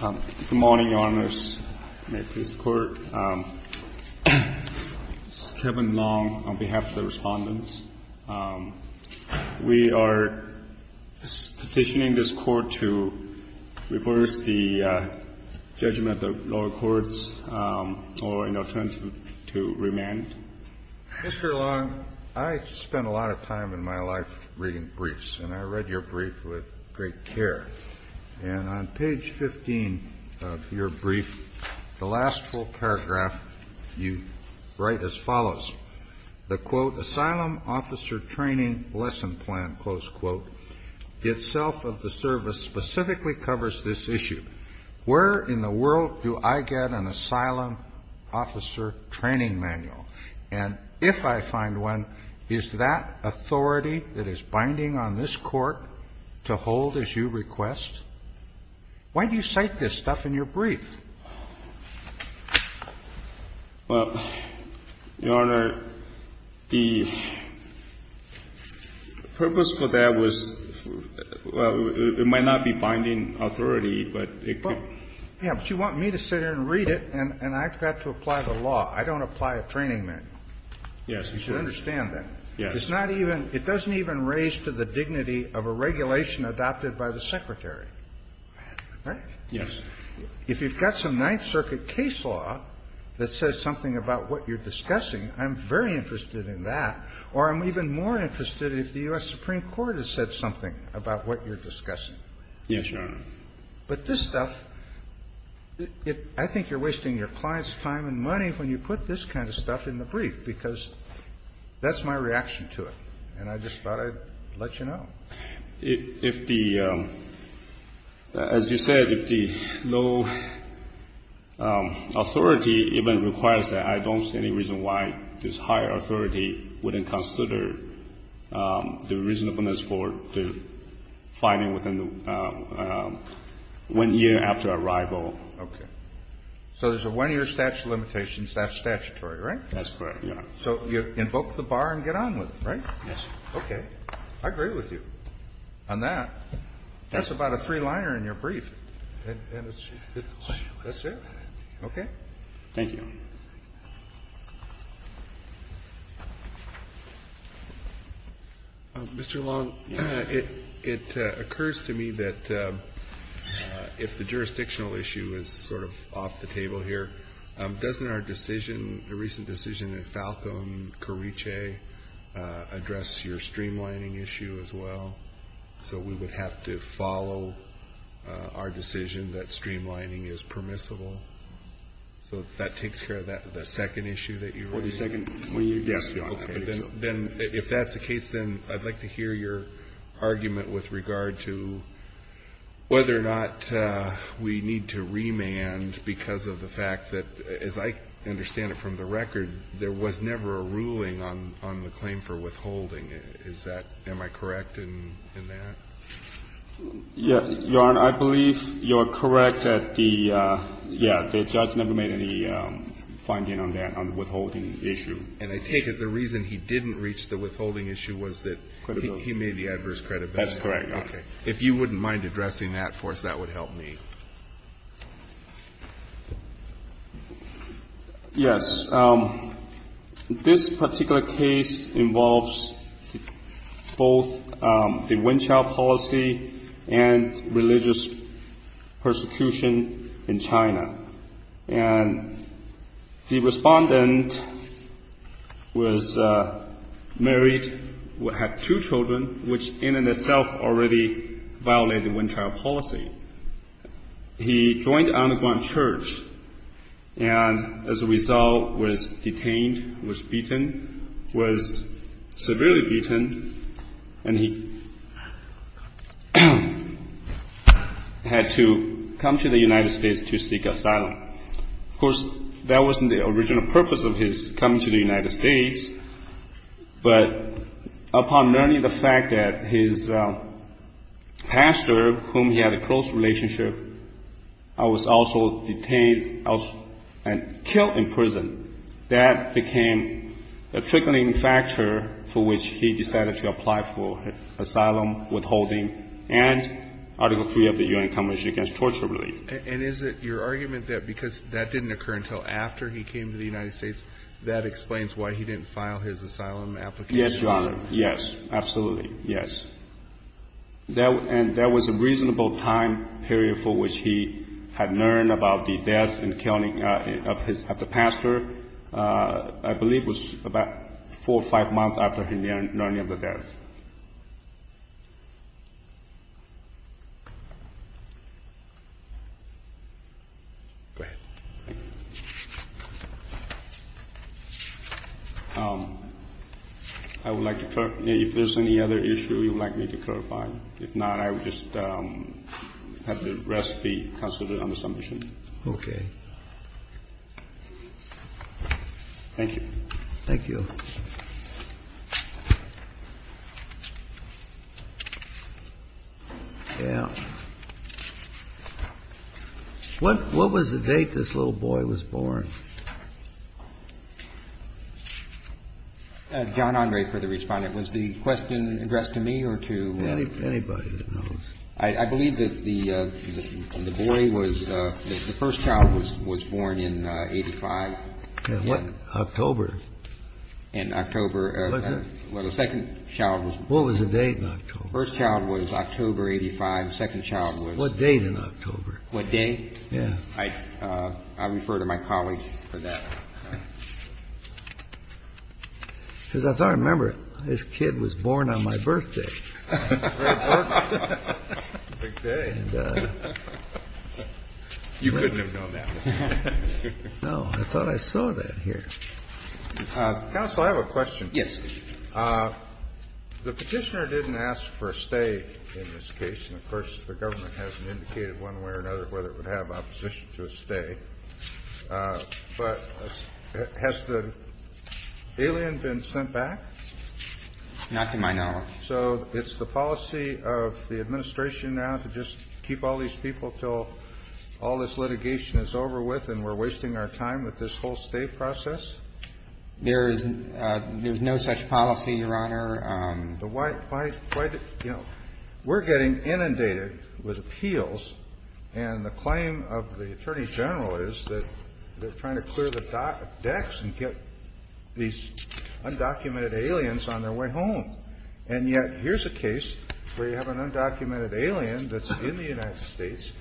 Good morning, Your Honors. May it please the Court. This is Kevin Long on behalf of the Respondents. We are petitioning this Court to reverse the judgment of the lower courts or, in our terms, to remand. Mr. Long, I spent a lot of time in my life reading briefs, and I read your brief with great care. And on page 15 of your brief, the last full paragraph, you write as follows. The, quote, Asylum Officer Training Lesson Plan, close quote, itself of the service specifically covers this issue. Where in the world do I get an asylum officer training manual? And if I find one, is that authority that is binding on this Court to hold as you request? Why do you cite this stuff in your brief? Long, Your Honor, the purpose for that was, well, it might not be binding authority, but it could be. But you want me to sit here and read it, and I've got to apply the law. I don't apply a training manual. Yes, Your Honor. You should understand that. Yes. It's not even – it doesn't even raise to the dignity of a regulation adopted by the Secretary. Right? Yes. If you've got some Ninth Circuit case law that says something about what you're discussing, I'm very interested in that. Or I'm even more interested if the U.S. Supreme Court has said something about what you're discussing. Yes, Your Honor. But this stuff, I think you're wasting your client's time and money when you put this kind of stuff in the brief, because that's my reaction to it. And I just thought I'd let you know. If the – as you said, if the low authority even requires that, So there's a one-year statute of limitations. That's statutory, right? That's correct, Your Honor. So you invoke the bar and get on with it, right? Yes. Okay. I agree with you on that. That's about a three-liner in your brief, and it's – that's it? Okay. Thank you, Your Honor. Mr. Long, it occurs to me that if the jurisdictional issue is sort of off the table here, doesn't our decision, the recent decision in Falcom, Corice, address your streamlining issue as well? So we would have to follow our decision that streamlining is permissible. So that takes care of the second issue that you raised? The second? Yes, Your Honor. Okay. Then if that's the case, then I'd like to hear your argument with regard to whether or not we need to remand because of the fact that, as I understand it from the record, there was never a ruling on the claim for withholding. Is that – am I correct in that? Your Honor, I believe you are correct that the – yeah, the judge never made any finding on that, on the withholding issue. And I take it the reason he didn't reach the withholding issue was that he made the adverse credit benefit? That's correct, Your Honor. Okay. If you wouldn't mind addressing that for us, that would help me. Yes, this particular case involves both the one-child policy and religious persecution in China. And the respondent was married, had two children, which in and of itself already violated one-child policy. He joined Anaguan church and, as a result, was detained, was beaten, was severely beaten, and he had to come to the United States to seek asylum. Of course, that wasn't the original purpose of his coming to the United States, but upon learning the fact that his pastor, whom he had a close relationship with, was also detained and killed in prison, that became a trickling factor for which he decided to apply for asylum, withholding, and Article 3 of the U.N. Convention against Torture Relief. And is it your argument that because that didn't occur until after he came to the United States, that explains why he didn't file his asylum application? Yes, Your Honor. Yes, absolutely. Yes. And there was a reasonable time period for which he had learned about the death and killing of the pastor. I believe it was about four or five months after he learned of the death. Go ahead. I would like to clarify. If there's any other issue you would like me to clarify. If not, I would just have the rest be considered under submission. Okay. Thank you. Thank you. Yeah. What was the date this little boy was born? John Andre, for the Respondent. Was the question addressed to me or to? Anybody that knows. I believe that the boy was the first child was born in 1985. In what? October. In October. Was it? Well, the second child was. What was the date in October? First child was October 85. Second child was. What date in October? What date? Yeah. I refer to my colleagues for that. Because I thought I remember. This kid was born on my birthday. Big day. You couldn't have known that. No. I thought I saw that here. Counsel, I have a question. Yes. The Petitioner didn't ask for a stay in this case. And, of course, the government hasn't indicated one way or another whether it would have opposition to a stay. But has the alien been sent back? Not to my knowledge. So it's the policy of the Administration now to just keep all these people until all this litigation is over with and we're wasting our time with this whole stay process? There is no such policy, Your Honor. But why, you know, we're getting inundated with appeals. And the claim of the Attorney General is that they're trying to clear the decks and get these undocumented aliens on their way home. And yet here's a case where you have an undocumented alien that's in the United States,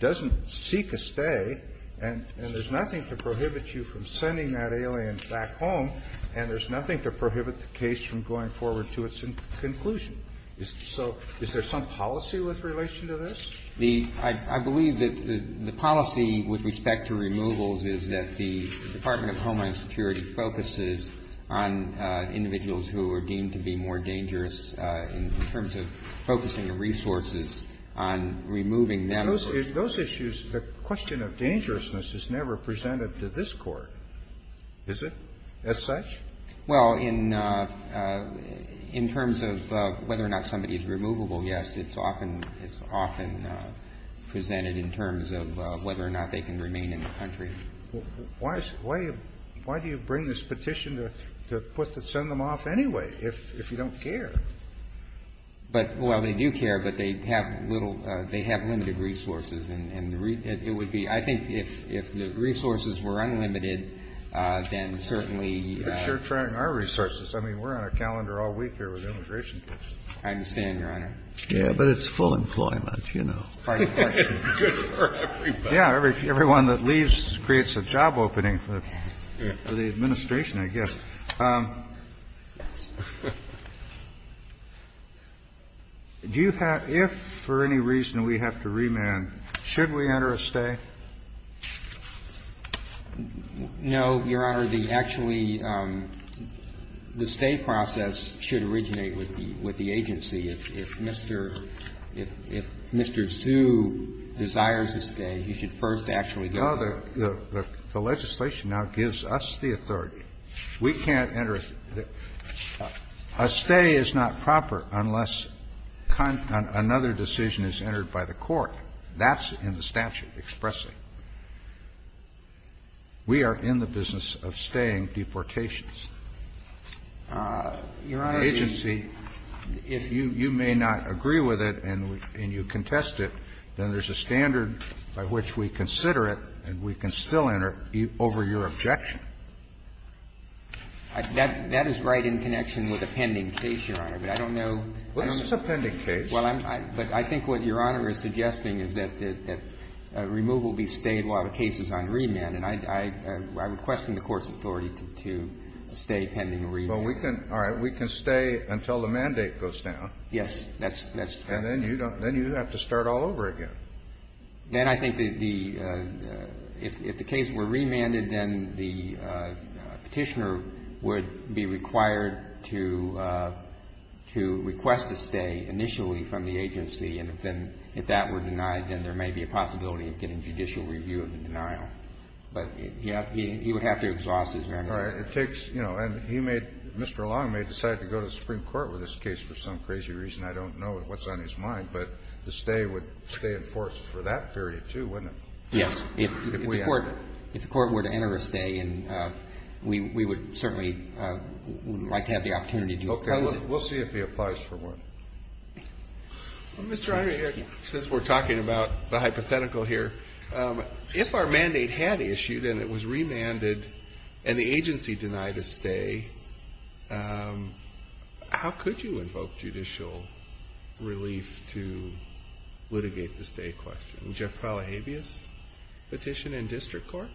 doesn't seek a stay, and there's nothing to prohibit you from sending that alien back home, and there's nothing to prohibit the case from going forward to its conclusion. So is there some policy with relation to this? I believe that the policy with respect to removals is that the Department of Homeland Security focuses on individuals who are deemed to be more dangerous in terms of focusing the resources on removing them. Those issues, the question of dangerousness is never presented to this Court, is it, as such? Well, in terms of whether or not somebody is removable, yes. It's often presented in terms of whether or not they can remain in the country. Why do you bring this petition to put to send them off anyway if you don't care? But, well, they do care, but they have limited resources. And it would be, I think if the resources were unlimited, then certainly. But you're trying our resources. I mean, we're on a calendar all week here with immigration cases. I understand, Your Honor. Yes, but it's full employment, you know. It's good for everybody. Yeah. Everyone that leaves creates a job opening for the Administration, I guess. Do you have, if for any reason we have to remand, should we enter a stay? No, Your Honor. The actually the stay process should originate with the agency. If Mr. Zu desires a stay, he should first actually go there. No. The legislation now gives us the authority. We can't enter a stay. A stay is not proper unless another decision is entered by the Court. That's in the statute expressing. We are in the business of staying deportations. Your Honor, the agency. If you may not agree with it and you contest it, then there's a standard by which we consider it and we can still enter over your objection. That is right in connection with a pending case, Your Honor. But I don't know. It's a pending case. But I think what Your Honor is suggesting is that removal be stayed while the case is on remand. And I would question the Court's authority to stay pending a remand. Well, we can stay until the mandate goes down. Yes. And then you have to start all over again. Then I think if the case were remanded, then the petitioner would be required to request a stay initially from the agency. And if that were denied, then there may be a possibility of getting judicial review of the denial. But he would have to exhaust his remand. All right. It takes, you know, and he may, Mr. Long may decide to go to the Supreme Court with this case for some crazy reason. I don't know what's on his mind. But the stay would stay in force for that period, too, wouldn't it? Yes. If the Court were to enter a stay, we would certainly like to have the opportunity to look at it. We'll see if he applies for one. Well, Mr. Henry, since we're talking about the hypothetical here, if our mandate had issued and it was remanded and the agency denied a stay, how could you invoke judicial relief to litigate the stay question? Jeff Fallahabias? Petition in district court?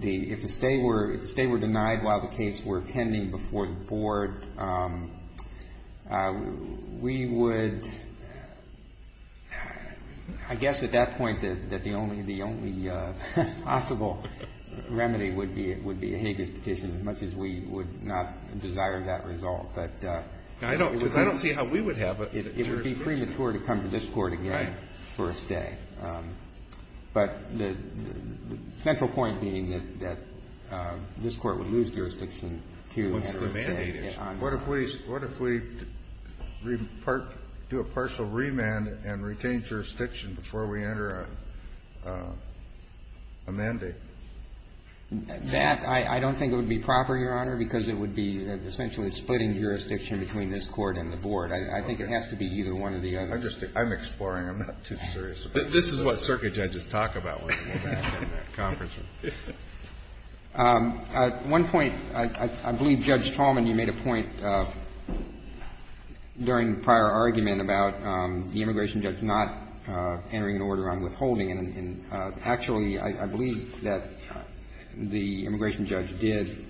If the stay were denied while the case were pending before the board, we would, I guess at that point that the only possible remedy would be a habeas petition as much as we would not desire that result. I don't see how we would have a jurisdiction. It would be premature to come to this Court again for a stay. Right. But the central point being that this Court would lose jurisdiction to have a stay. What if we do a partial remand and retain jurisdiction before we enter a mandate? That, I don't think it would be proper, Your Honor, because it would be essentially splitting jurisdiction between this Court and the board. I think it has to be either one or the other. I'm exploring. I'm not too serious about this. This is what circuit judges talk about when they go back in that conference room. At one point, I believe Judge Tallman, you made a point during prior argument about the immigration judge not entering an order on withholding. And actually, I believe that the immigration judge did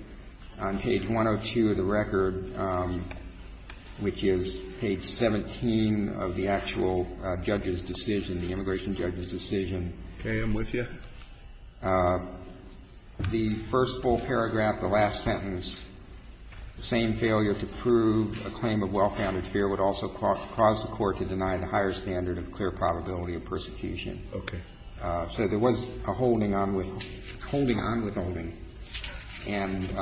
on page 102 of the record, which is page 17 of the actual judge's decision, the immigration judge's decision. Okay. I'm with you. The first full paragraph, the last sentence, the same failure to prove a claim of well-founded fear would also cause the Court to deny the higher standard of clear probability of persecution. Okay. So there was a holding on withholding. And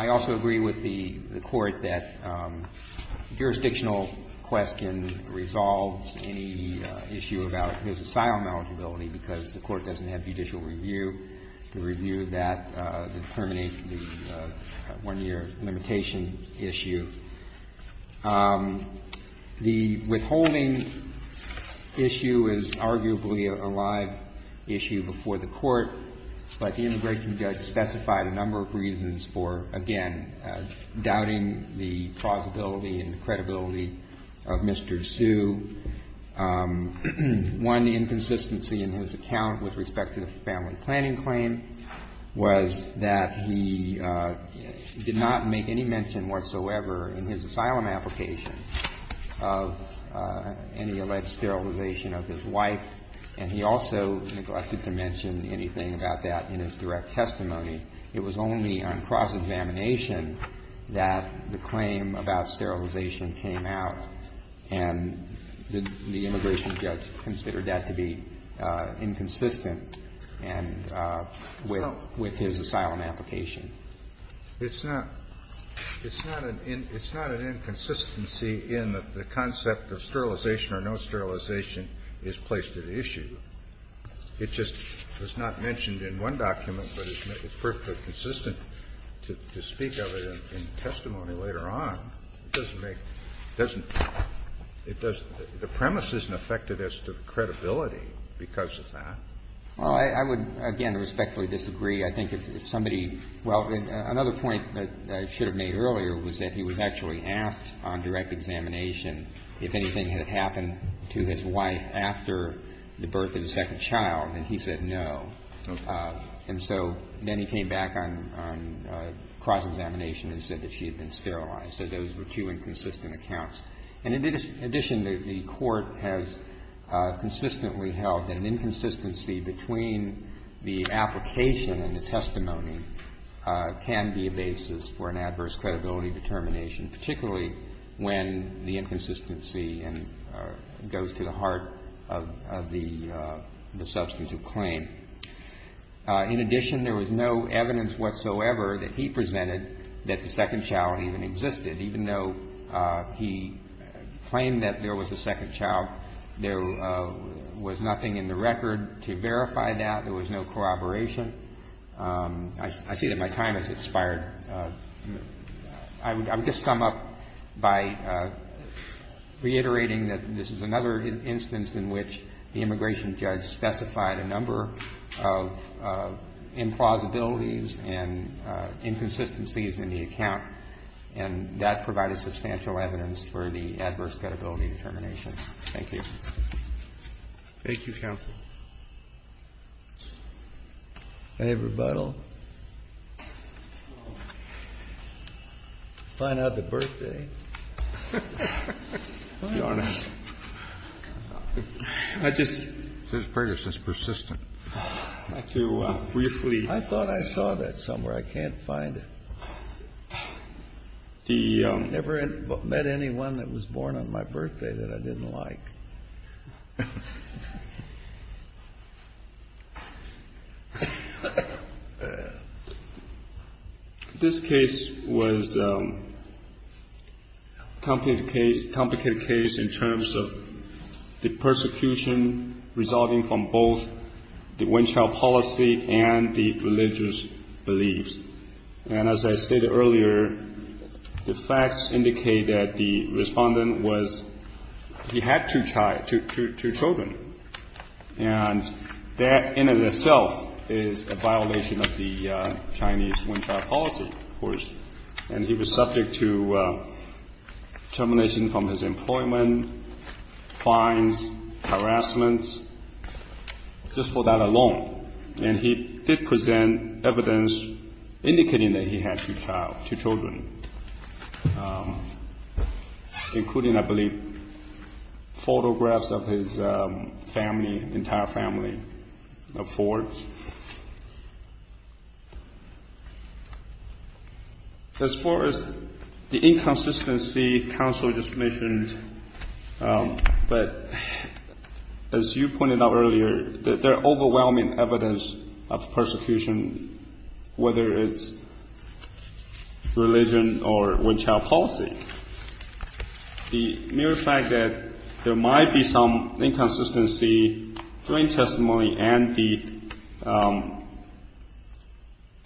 I also agree with the Court that jurisdictional question resolves any issue about his asylum eligibility because the Court doesn't have judicial review to review that determination, the one-year limitation issue. The withholding issue is arguably a live issue before the Court, but the immigration judge specified a number of reasons for, again, doubting the plausibility and the credibility of Mr. Sue. One, the inconsistency in his account with respect to the family planning claim was that he did not make any mention whatsoever in his asylum application of any alleged sterilization of his wife. And he also neglected to mention anything about that in his direct testimony. It was only on cross-examination that the claim about sterilization came out. And the immigration judge considered that to be inconsistent with his asylum application. It's not an inconsistency in the concept of sterilization or no sterilization is placed at issue. It just was not mentioned in one document, but it's perfectly consistent to speak of it in testimony later on. It doesn't make – it doesn't – the premise isn't affected as to the credibility because of that. Well, I would, again, respectfully disagree. I think if somebody – well, another point that I should have made earlier was that he was actually asked on direct examination if anything had happened to his wife after the birth of his second child, and he said no. And so then he came back on cross-examination and said that she had been sterilized. He said those were two inconsistent accounts. And in addition, the Court has consistently held that an inconsistency between the application and the testimony can be a basis for an adverse credibility determination, particularly when the inconsistency goes to the heart of the substantive claim. In addition, there was no evidence whatsoever that he presented that the second child even existed, even though he claimed that there was a second child. There was nothing in the record to verify that. There was no corroboration. I see that my time has expired. I would just sum up by reiterating that this is another instance in which the immigration judge specified a number of implausibilities and inconsistencies in the account and that provided substantial evidence for the adverse credibility determination. Thank you. Roberts. Thank you, counsel. Breyer. I have rebuttal. Find out the birthday. Your Honor, I just. Justice Breyer, this is persistent. To briefly. I thought I saw that somewhere. I can't find it. I never met anyone that was born on my birthday that I didn't like. This case was a complicated case in terms of the persecution resulting from both the one-child policy and the religious beliefs. And as I stated earlier, the facts indicate that the respondent was. He had two children. And that in and of itself is a violation of the Chinese one-child policy. And he was subject to termination from his employment, fines, harassments, just for that alone. And he did present evidence indicating that he had two children, including, I believe, photographs of his family, entire family of four. As far as the inconsistency counsel just mentioned, but as you pointed out earlier, there are overwhelming evidence of persecution, whether it's religion or one-child policy. The mere fact that there might be some inconsistency, joint testimony and the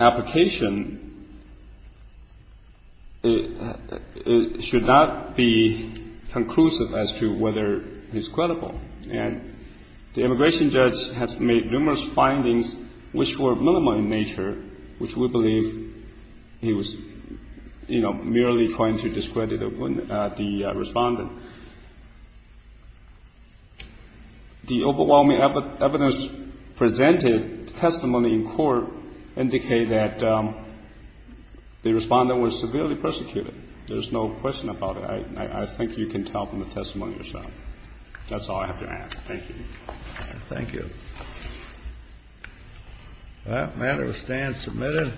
application should not be conclusive as to whether he's credible. And the immigration judge has made numerous findings which were minimal in nature, which we believe he was merely trying to discredit the respondent. The overwhelming evidence presented testimony in court indicate that the respondent was severely persecuted. There's no question about it. I think you can tell from the testimony yourself. That's all I have to ask. Thank you. Thank you. That matter stands submitted.